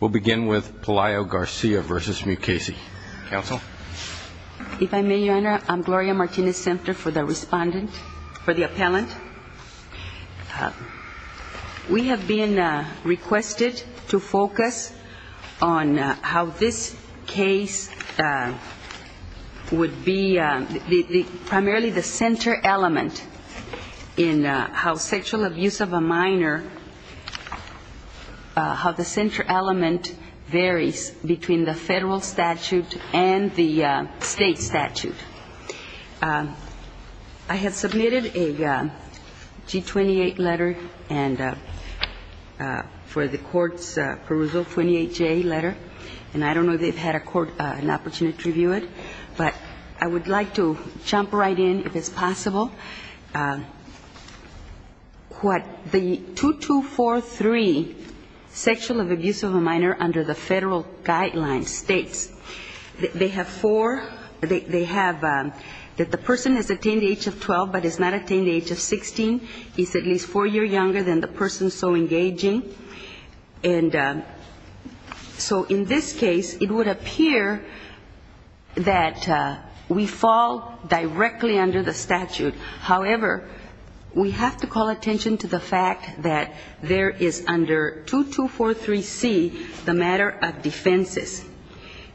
We'll begin with Palayo-Garcia v. Mukasey. Counsel? If I may, Your Honor, I'm Gloria Martinez-Semper for the respondent, for the appellant. We have been requested to focus on how this case would be primarily the center element in how sexual abuse of a minor, how the center element varies between the federal statute and the state statute. I have submitted a G-28 letter for the court's perusal, 28J letter. And I don't know if they've had an opportunity to review it. But I would like to jump right in if it's possible. What the 2243 sexual abuse of a minor under the federal guidelines states, they have four, they have that the person has attained the age of 12 but has not attained the age of 16, is at least four years younger than the person so engaging. And so in this case, it would appear that we fall directly under the statute. However, we have to call attention to the fact that there is under 2243C the matter of defenses.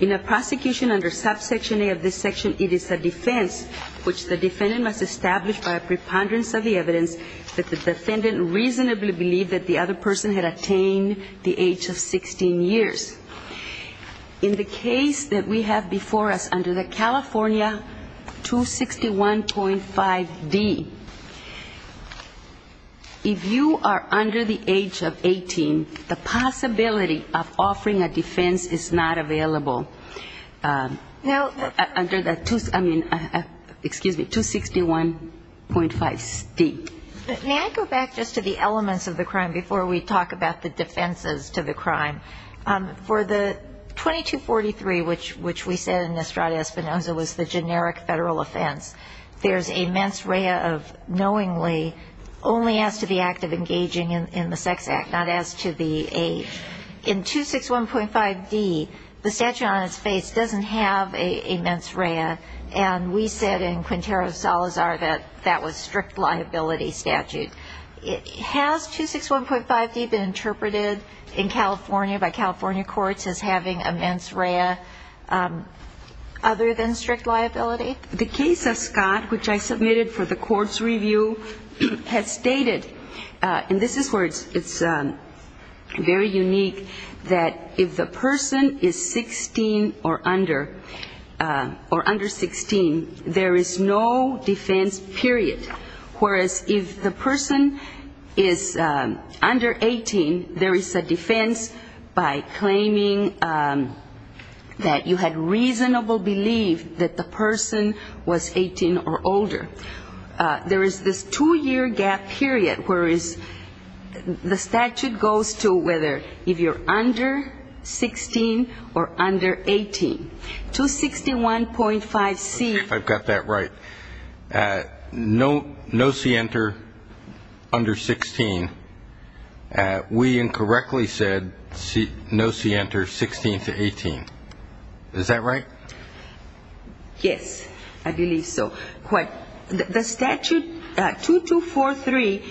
In a prosecution under subsection A of this section, it is a defense which the defendant must establish by a preponderance of the evidence that the defendant reasonably believed that the other person had attained the age of 16 years. In the case that we have before us under the California 261.5D, if you are under the age of 18, the possibility of offering a defense is not available. Under the, excuse me, 261.5D. May I go back just to the elements of the crime before we talk about the defenses to the crime? For the 2243, which we said in Estrada Espinosa was the generic federal offense, there's a mens rea of knowingly only as to the person on its face doesn't have a mens rea. And we said in Quintero Salazar that that was strict liability statute. Has 261.5D been interpreted in California by California courts as having a mens rea other than strict liability? The case of Scott, which I submitted for the court's review, has stated, and this is where it's very unique, that if the person is 16 years or under, or under 16, there is no defense, period. Whereas if the person is under 18, there is a defense by claiming that you had reasonable belief that the person was 18 or older. There is this two-year gap period, whereas the statute goes to whether if you're under 16 or under 18, there is no defense, period. The statute goes to the age of 18. 261.5C. If I've got that right, no C enter under 16, we incorrectly said no C enter 16 to 18. Is that right? Yes, I believe so. The statute 2243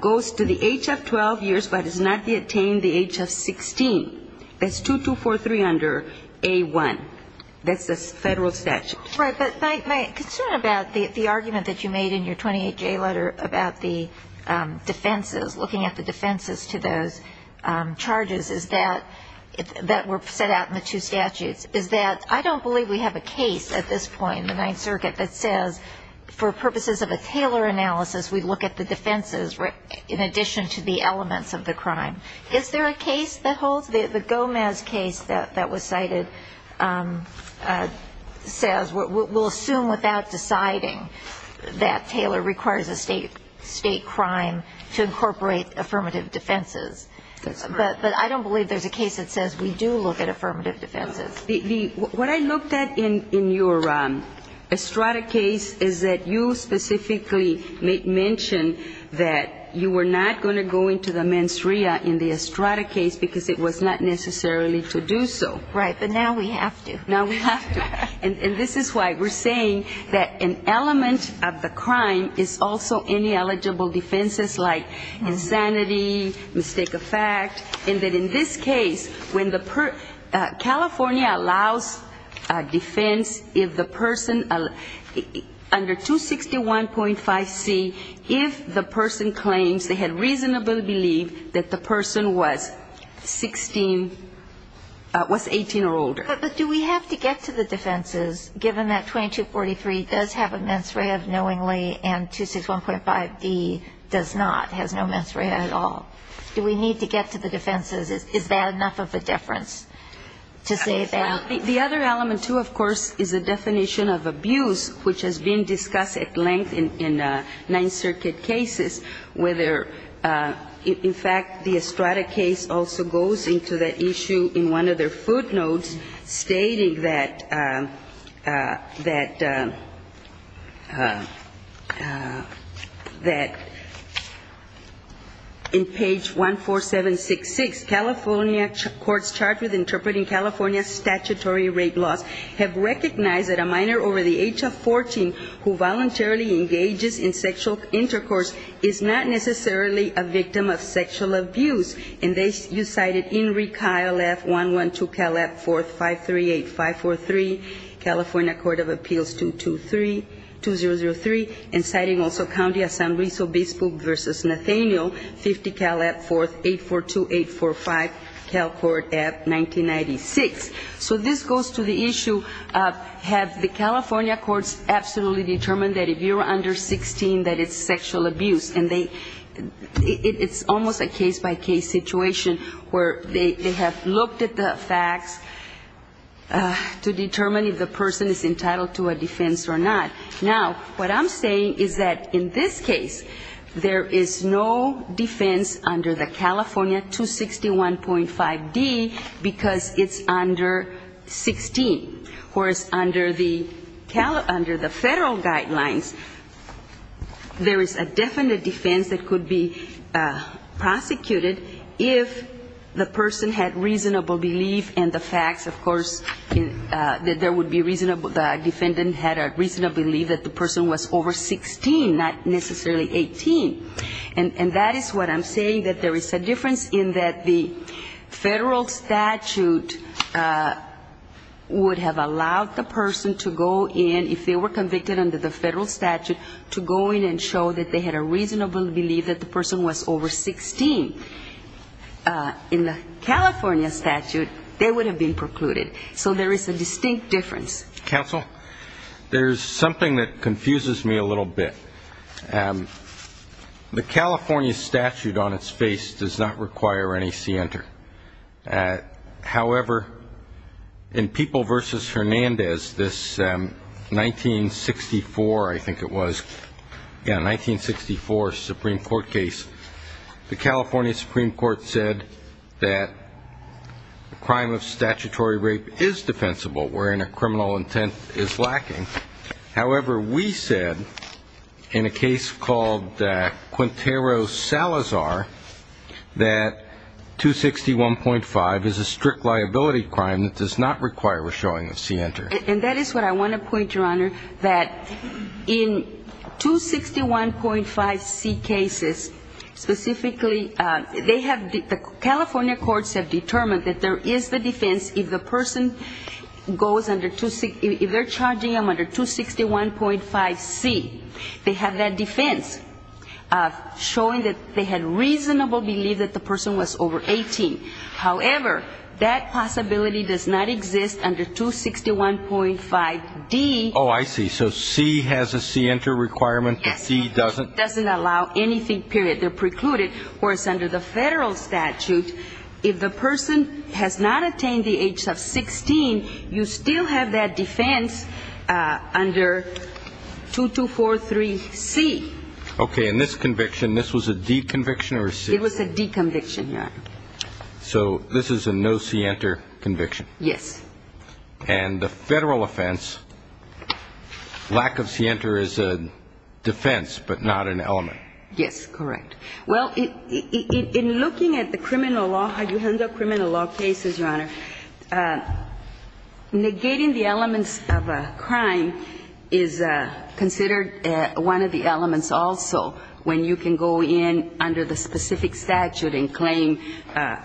goes to the age of 12 years but does not attain the age of 16. That's the federal statute. Right, but my concern about the argument that you made in your 28J letter about the defenses, looking at the defenses to those charges that were set out in the two statutes, is that I don't believe we have a case at this point in the Ninth Circuit that says for purposes of a Taylor analysis, we look at the defenses in addition to the elements of the crime. Is there a case that holds? The Gomez case that was cited says we'll assume without deciding that Taylor requires a state crime to incorporate affirmative defenses. But I don't believe there's a case that says we do look at affirmative defenses. What I looked at in your Estrada case is that you specifically mentioned that you were not going to go into the mens rea in this case. And this is why we're saying that an element of the crime is also in the eligible defenses, like insanity, mistake of fact, and that in this case, when the California allows defense if the person under 261.5C, if the person claims they had reasonable belief that the person was guilty of the offense, then the California statute says that the person was 18 or older. But do we have to get to the defenses, given that 2243 does have a mens rea of knowingly and 261.5B does not, has no mens rea at all? Do we need to get to the defenses? Is that enough of a difference to say that? The other element, too, of course, is the definition of abuse, which has been discussed at length in Ninth Circuit cases, whether, in fact, the Estrada case also goes into the issue in one of their footnotes stating that in page 14766, California courts charged with interpreting California statutory rape laws have recognized that a minor over the age of 14 who voluntarily engages in sexual intercourse is not necessarily a victim of sexual abuse. And you cited Enrique, ILF, 112, Calab, 4th, 538, 543, California Court of Appeals, 223, 2003, and citing also County of San Luis Obispo versus Nathaniel, 50, Calab, 4th, 842, 845, Cal Court, 1996. So this goes to the issue, have the California courts absolutely determined that if you're under 16 that it's sexual abuse? And it's almost a case-by-case situation. Where they have looked at the facts to determine if the person is entitled to a defense or not. Now, what I'm saying is that in this case, there is no defense under the California 261.5D because it's under 16. Whereas under the federal guidelines, there is a definite defense that could be prosecuted if the person is entitled to a defense or not. If the person had reasonable belief in the facts, of course, that there would be reasonable, the defendant had a reasonable belief that the person was over 16, not necessarily 18. And that is what I'm saying, that there is a difference in that the federal statute would have allowed the person to go in, if they were convicted under the federal statute, to go in and show that they had a reasonable belief that the person was over 16. In the California statute, they would have been precluded. So there is a distinct difference. Counsel, there's something that confuses me a little bit. The California statute on its face does not require any scienter. However, in People v. Hernandez, this 1964, I think it was, yeah, 1964 Supreme Court case, the California Supreme Court says, that crime of statutory rape is defensible, wherein a criminal intent is lacking. However, we said, in a case called Quintero Salazar, that 261.5 is a strict liability crime that does not require a showing of scienter. And that is what I want to point, Your Honor, that in 261.5C cases, specifically, they have, the court has said that there is no requirement for a showing of scienter. California courts have determined that there is the defense, if the person goes under, if they're charging them under 261.5C, they have that defense, showing that they had reasonable belief that the person was over 18. However, that possibility does not exist under 261.5D. Oh, I see. So C has a scienter requirement, but C doesn't? It doesn't allow anything, period, they're precluded, whereas under the federal statute, if the person has not attained the age of 16, you still have that defense under 2243C. Okay, and this conviction, this was a D conviction or a C? It was a D conviction, Your Honor. So this is a no scienter conviction? Yes. And the federal offense, lack of scienter is a defense, but not an element? Yes, correct. Well, in looking at the criminal law, how you handle criminal law cases, Your Honor, negating the elements of a crime is considered one of the elements also, when you can go in under the specific statute and claim,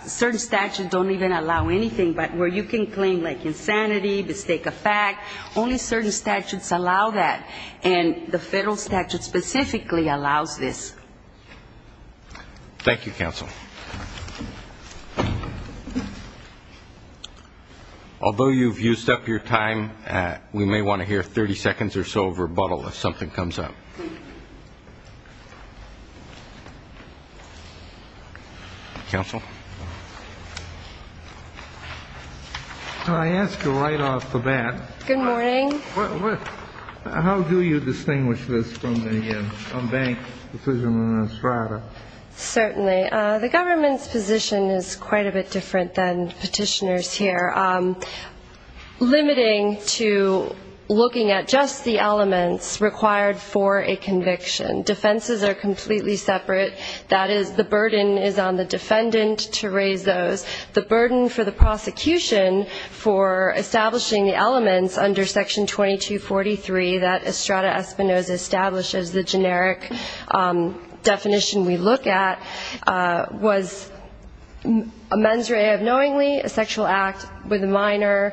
certain statutes don't even allow anything, but where you can claim like insanity, mistake of fact, only certain statutes allow that, and the federal statute specifically allows this. Thank you, counsel. Although you've used up your time, we may want to hear 30 seconds or so of rebuttal if something comes up. Counsel? I ask you to write off the bat. Good morning. How do you distinguish this from the bank decision on Estrada? Certainly. The government's position is quite a bit different than petitioner's here, limiting to looking at just the elements required for a conviction. The defenses are completely separate. That is, the burden is on the defendant to raise those. The burden for the prosecution for establishing the elements under Section 2243 that Estrada Espinoza establishes, the generic definition we look at, was a mens rea of knowingly, a sexual act with a minor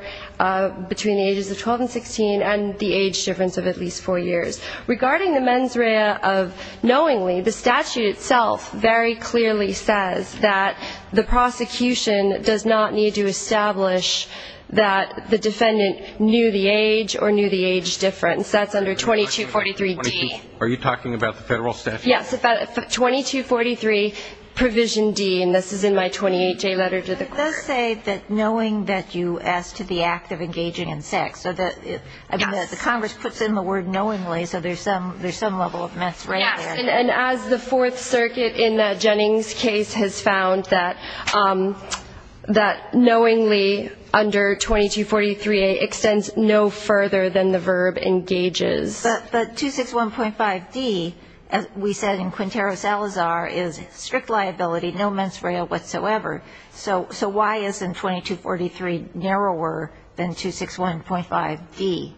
between the ages of 12 and 16, and the age difference of at least four years. Regarding the mens rea of knowingly, the statute itself very clearly says that the prosecution does not need to establish that the defendant knew the age or knew the age difference. That's under 2243D. Are you talking about the federal statute? Yes, 2243 provision D, and this is in my 28-J letter to the court. So there's some level of mens rea there. Yes, and as the Fourth Circuit in Jennings' case has found that knowingly under 2243A extends no further than the verb engages. But 261.5D, as we said in Quintero Salazar, is strict liability, no mens rea whatsoever. So why isn't 2243 narrower than 261.5D?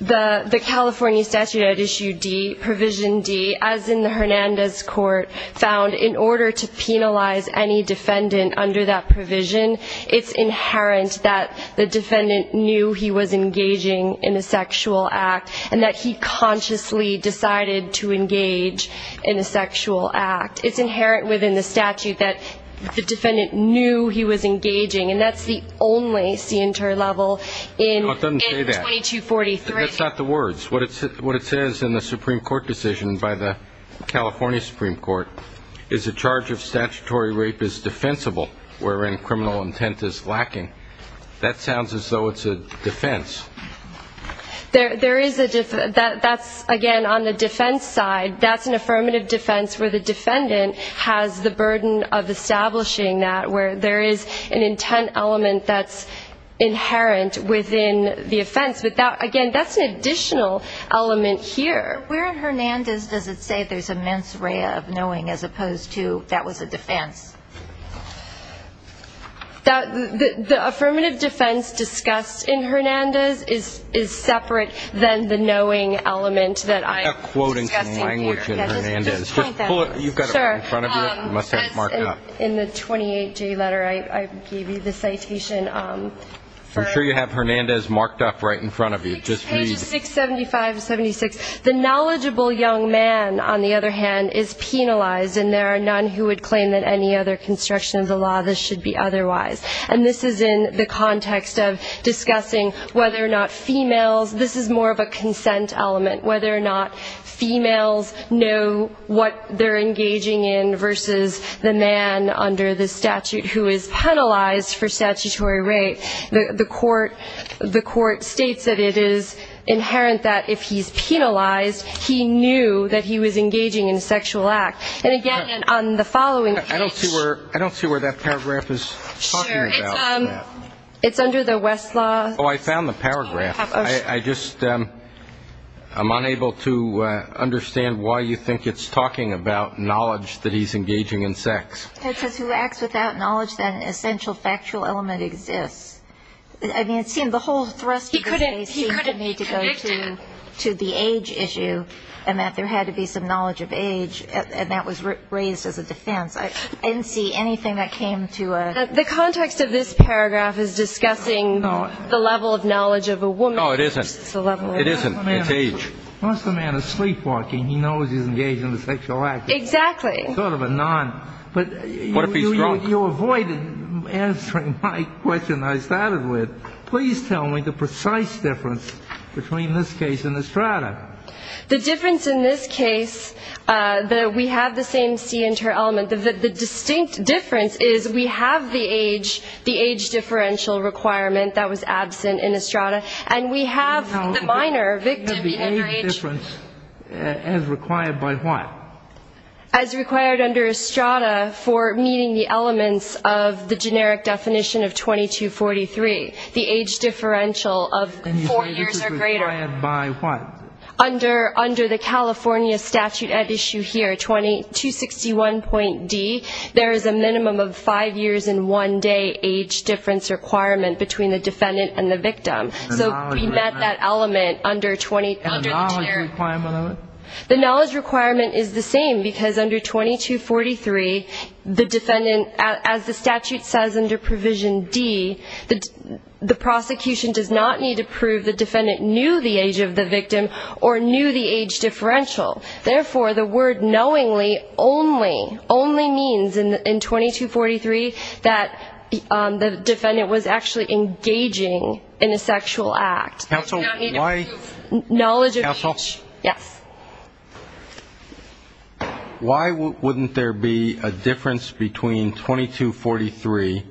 The California statute at issue D, provision D, as in the Hernandez court, found in order to penalize any defendant under that provision, it's inherent that the defendant knew he was engaging in a sexual act, and that he consciously decided to engage in a sexual act. It's inherent within the statute that the defendant knew he was engaging, and that's the only CNTER level in 2243. That's not the words. What it says in the Supreme Court decision by the California Supreme Court is the charge of statutory rape is defensible, wherein criminal intent is lacking. That sounds as though it's a defense. That's, again, on the defense side. That's an affirmative defense where the defendant has the burden of establishing that, where there is an intent element that's inherent within the offense. Again, that's an additional element here. Where in Hernandez does it say there's a mens rea of knowing, as opposed to that was a defense? The affirmative defense discussed in Hernandez is separate than the knowing element that I'm discussing here. I have a quote in some language in Hernandez. Just pull it. You've got it right in front of you. It must have it marked up. In the 28J letter, I gave you the citation. I'm sure you have Hernandez marked up right in front of you. Page 675-76. The knowledgeable young man, on the other hand, is penalized, and there are none who would claim that any other construction of the law that should be otherwise. And this is in the context of discussing whether or not females, this is more of a consent element, whether or not females know what they're engaging in versus the man. Under the statute, who is penalized for statutory rape, the court states that it is inherent that if he's penalized, he knew that he was engaging in a sexual act. And again, on the following page. I don't see where that paragraph is talking about. It's under the Westlaw. Oh, I found the paragraph. I'm unable to understand why you think it's talking about knowledge that he's engaging in sex. It says, who acts without knowledge that an essential factual element exists. I mean, it seemed the whole thrust of this case seemed to me to go to the age issue, and that there had to be some knowledge of age, and that was raised as a defense. I didn't see anything that came to a... It's a level of knowledge of a woman. Oh, it isn't. It isn't. It's age. Once the man is sleepwalking, he knows he's engaged in a sexual act. Exactly. But you avoided answering my question I started with. Please tell me the precise difference between this case and Estrada. The difference in this case, we have the same C inter-element. The distinct difference is we have the age differential requirement that was absent in Estrada, and we have the minor victim under age... The age difference as required by what? As required under Estrada for meeting the elements of the generic definition of 2243, the age differential of four years or greater. Under the California statute at issue here, 261.D, there is a minimum of five years and one day age difference requirement between the defendant and the victim. So we met that element under the generic... And the knowledge requirement of it? The knowledge requirement is the same, because under 2243, the defendant, as the statute says under provision D, the prosecution does not need to prove the defendant knew the age of the victim, or knew the age differential. Therefore, the word knowingly only means in 2243 that the defendant was actually engaging in a sexual act. Counsel, why... Why wouldn't there be a difference between 2243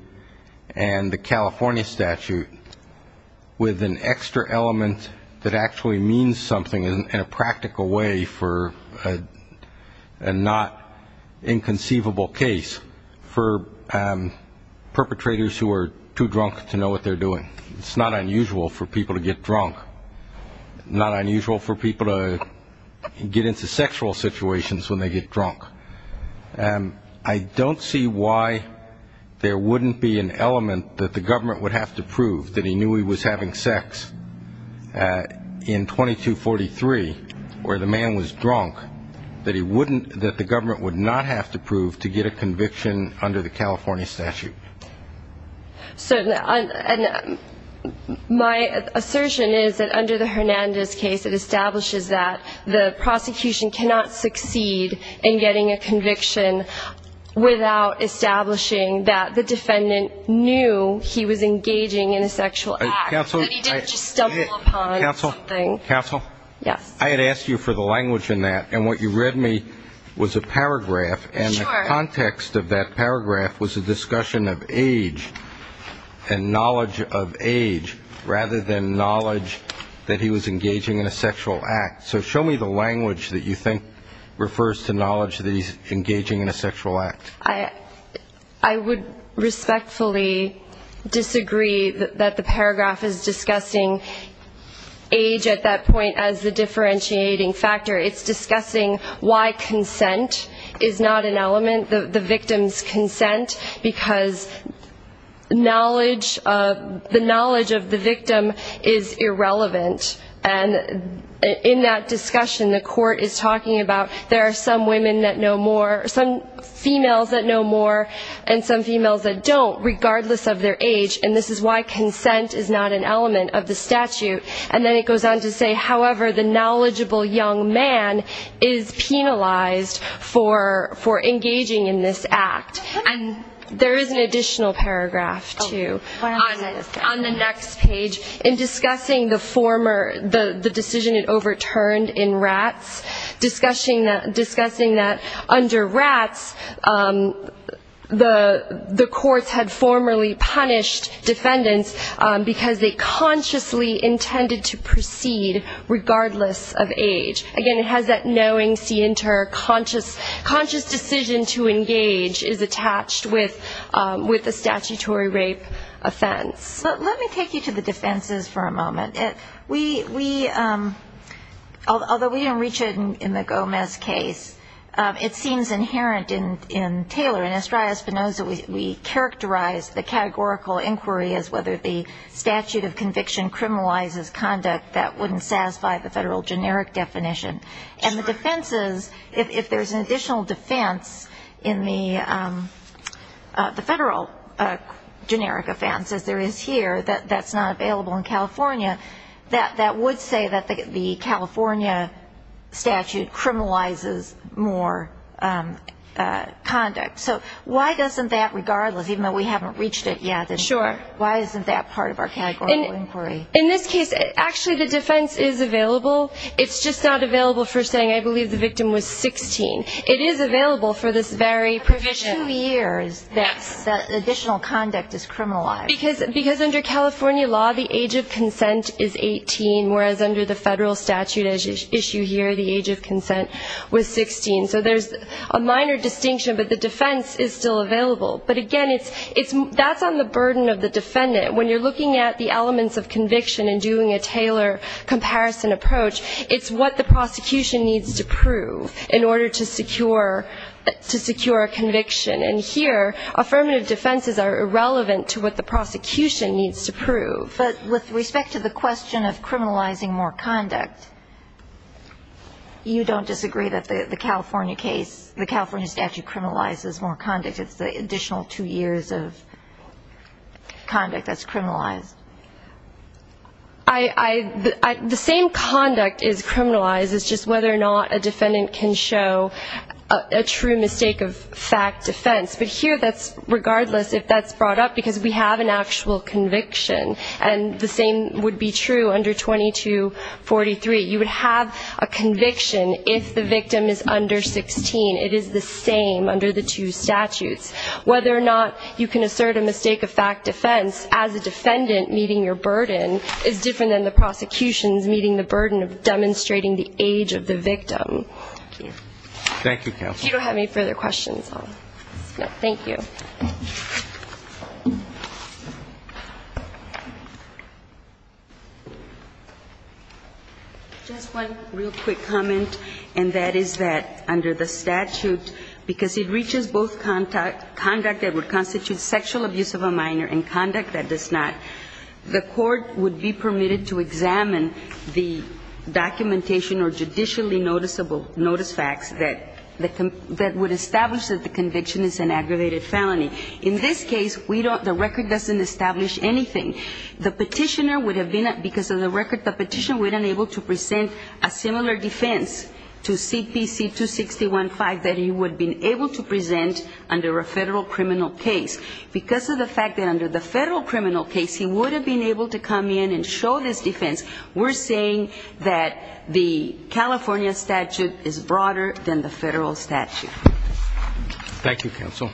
and the California statute with an extra element that actually means something, and a practical way for a not inconceivable case for perpetrators who are too drunk to know what they're doing? It's not unusual for people to get drunk. Not unusual for people to get into sexual situations when they get drunk. I don't see why there wouldn't be an element that the government would have to prove that he knew he was having sex in 2243, where the man was drunk, that the government would not have to prove to get a conviction under the California statute. So my assertion is that under the Hernandez case, it establishes that the prosecution cannot succeed in getting a conviction without establishing that the defendant knew he was engaging in a sexual act, that he didn't just stumble upon something. Counsel, I had asked you for the language in that, and what you read me was a paragraph, and the context of that paragraph was a discussion of age and knowledge of age, rather than knowledge that he was engaging in a sexual act. So show me the language that you think refers to knowledge that he's engaging in a sexual act. I would respectfully disagree that the paragraph is discussing age at that point, as the differentiating factor. It's discussing why consent is not an element, the victim's consent, because knowledge of the victim is irrelevant. And in that discussion, the court is talking about there are some women that know more, some females that know more, and some females that don't, regardless of their age, and this is why consent is not an element of the statute. And then it goes on to say, however, the knowledgeable young man is penalized for engaging in this act. And there is an additional paragraph, too, on the next page, in discussing the decision it overturned in rats, discussing that under rats, the courts had formerly punished defendants, because they consciously intended to proceed regardless of age. Again, it has that knowing scienter, conscious decision to engage is attached with a statutory rape offense. But let me take you to the defenses for a moment. Although we don't reach it in the Gomez case, it seems inherent in Taylor. In Astraea Spinoza, we characterize the categorical inquiry as whether the statute of conviction criminalizes conduct that wouldn't satisfy the federal generic definition. And the defenses, if there's an additional defense in the federal generic offense, as there is here, that's not available in California, that would say that the California statute criminalizes more conduct. So why doesn't that, regardless, even though we haven't reached it yet, why isn't that part of our categorical inquiry? In this case, actually the defense is available. It's just not available for saying I believe the victim was 16. It is available for this very provision. Because under California law, the age of consent is 18, whereas under the federal statute as issued here, the age of consent was 16. So there's a minor distinction, but the defense is still available. But again, that's on the burden of the defendant. When you're looking at the elements of conviction and doing a Taylor comparison approach, it's what the prosecution needs to prove in order to secure a conviction. And here, affirmative defenses are irrelevant to what the prosecution needs to prove. But with respect to the question of criminalizing more conduct, you don't disagree that the California case, the California statute criminalizes more conduct. It's the additional two years of conduct that's criminalized. The same conduct is criminalized. It's just whether or not a defendant can show a true mistake of fact defense. But here, that's regardless if that's brought up, because we have an actual conviction. And the same would be true under 2243. You would have a conviction if the victim is under 16. It is the same under the two statutes. Whether or not you can assert a mistake of fact defense as a defendant meeting your burden is different than the prosecution's meeting the burden of demonstrating the age of the victim. Thank you. Thank you. Just one real quick comment, and that is that under the statute, because it reaches both conduct that would constitute sexual abuse of a minor and conduct that does not, the court would be permitted to examine the documentation or judicially noticeable notice facts that would establish that the conviction is an aggravated felony. In this case, we don't, the record doesn't establish anything. The petitioner would have been, because of the record, the petitioner would have been able to present a similar defense to CPC 2615 that he would have been able to present under a federal criminal case. Because of the fact that under the federal criminal case he would have been able to come in and show this defense, we're saying that the California statute is broader than the federal statute. Thank you, counsel.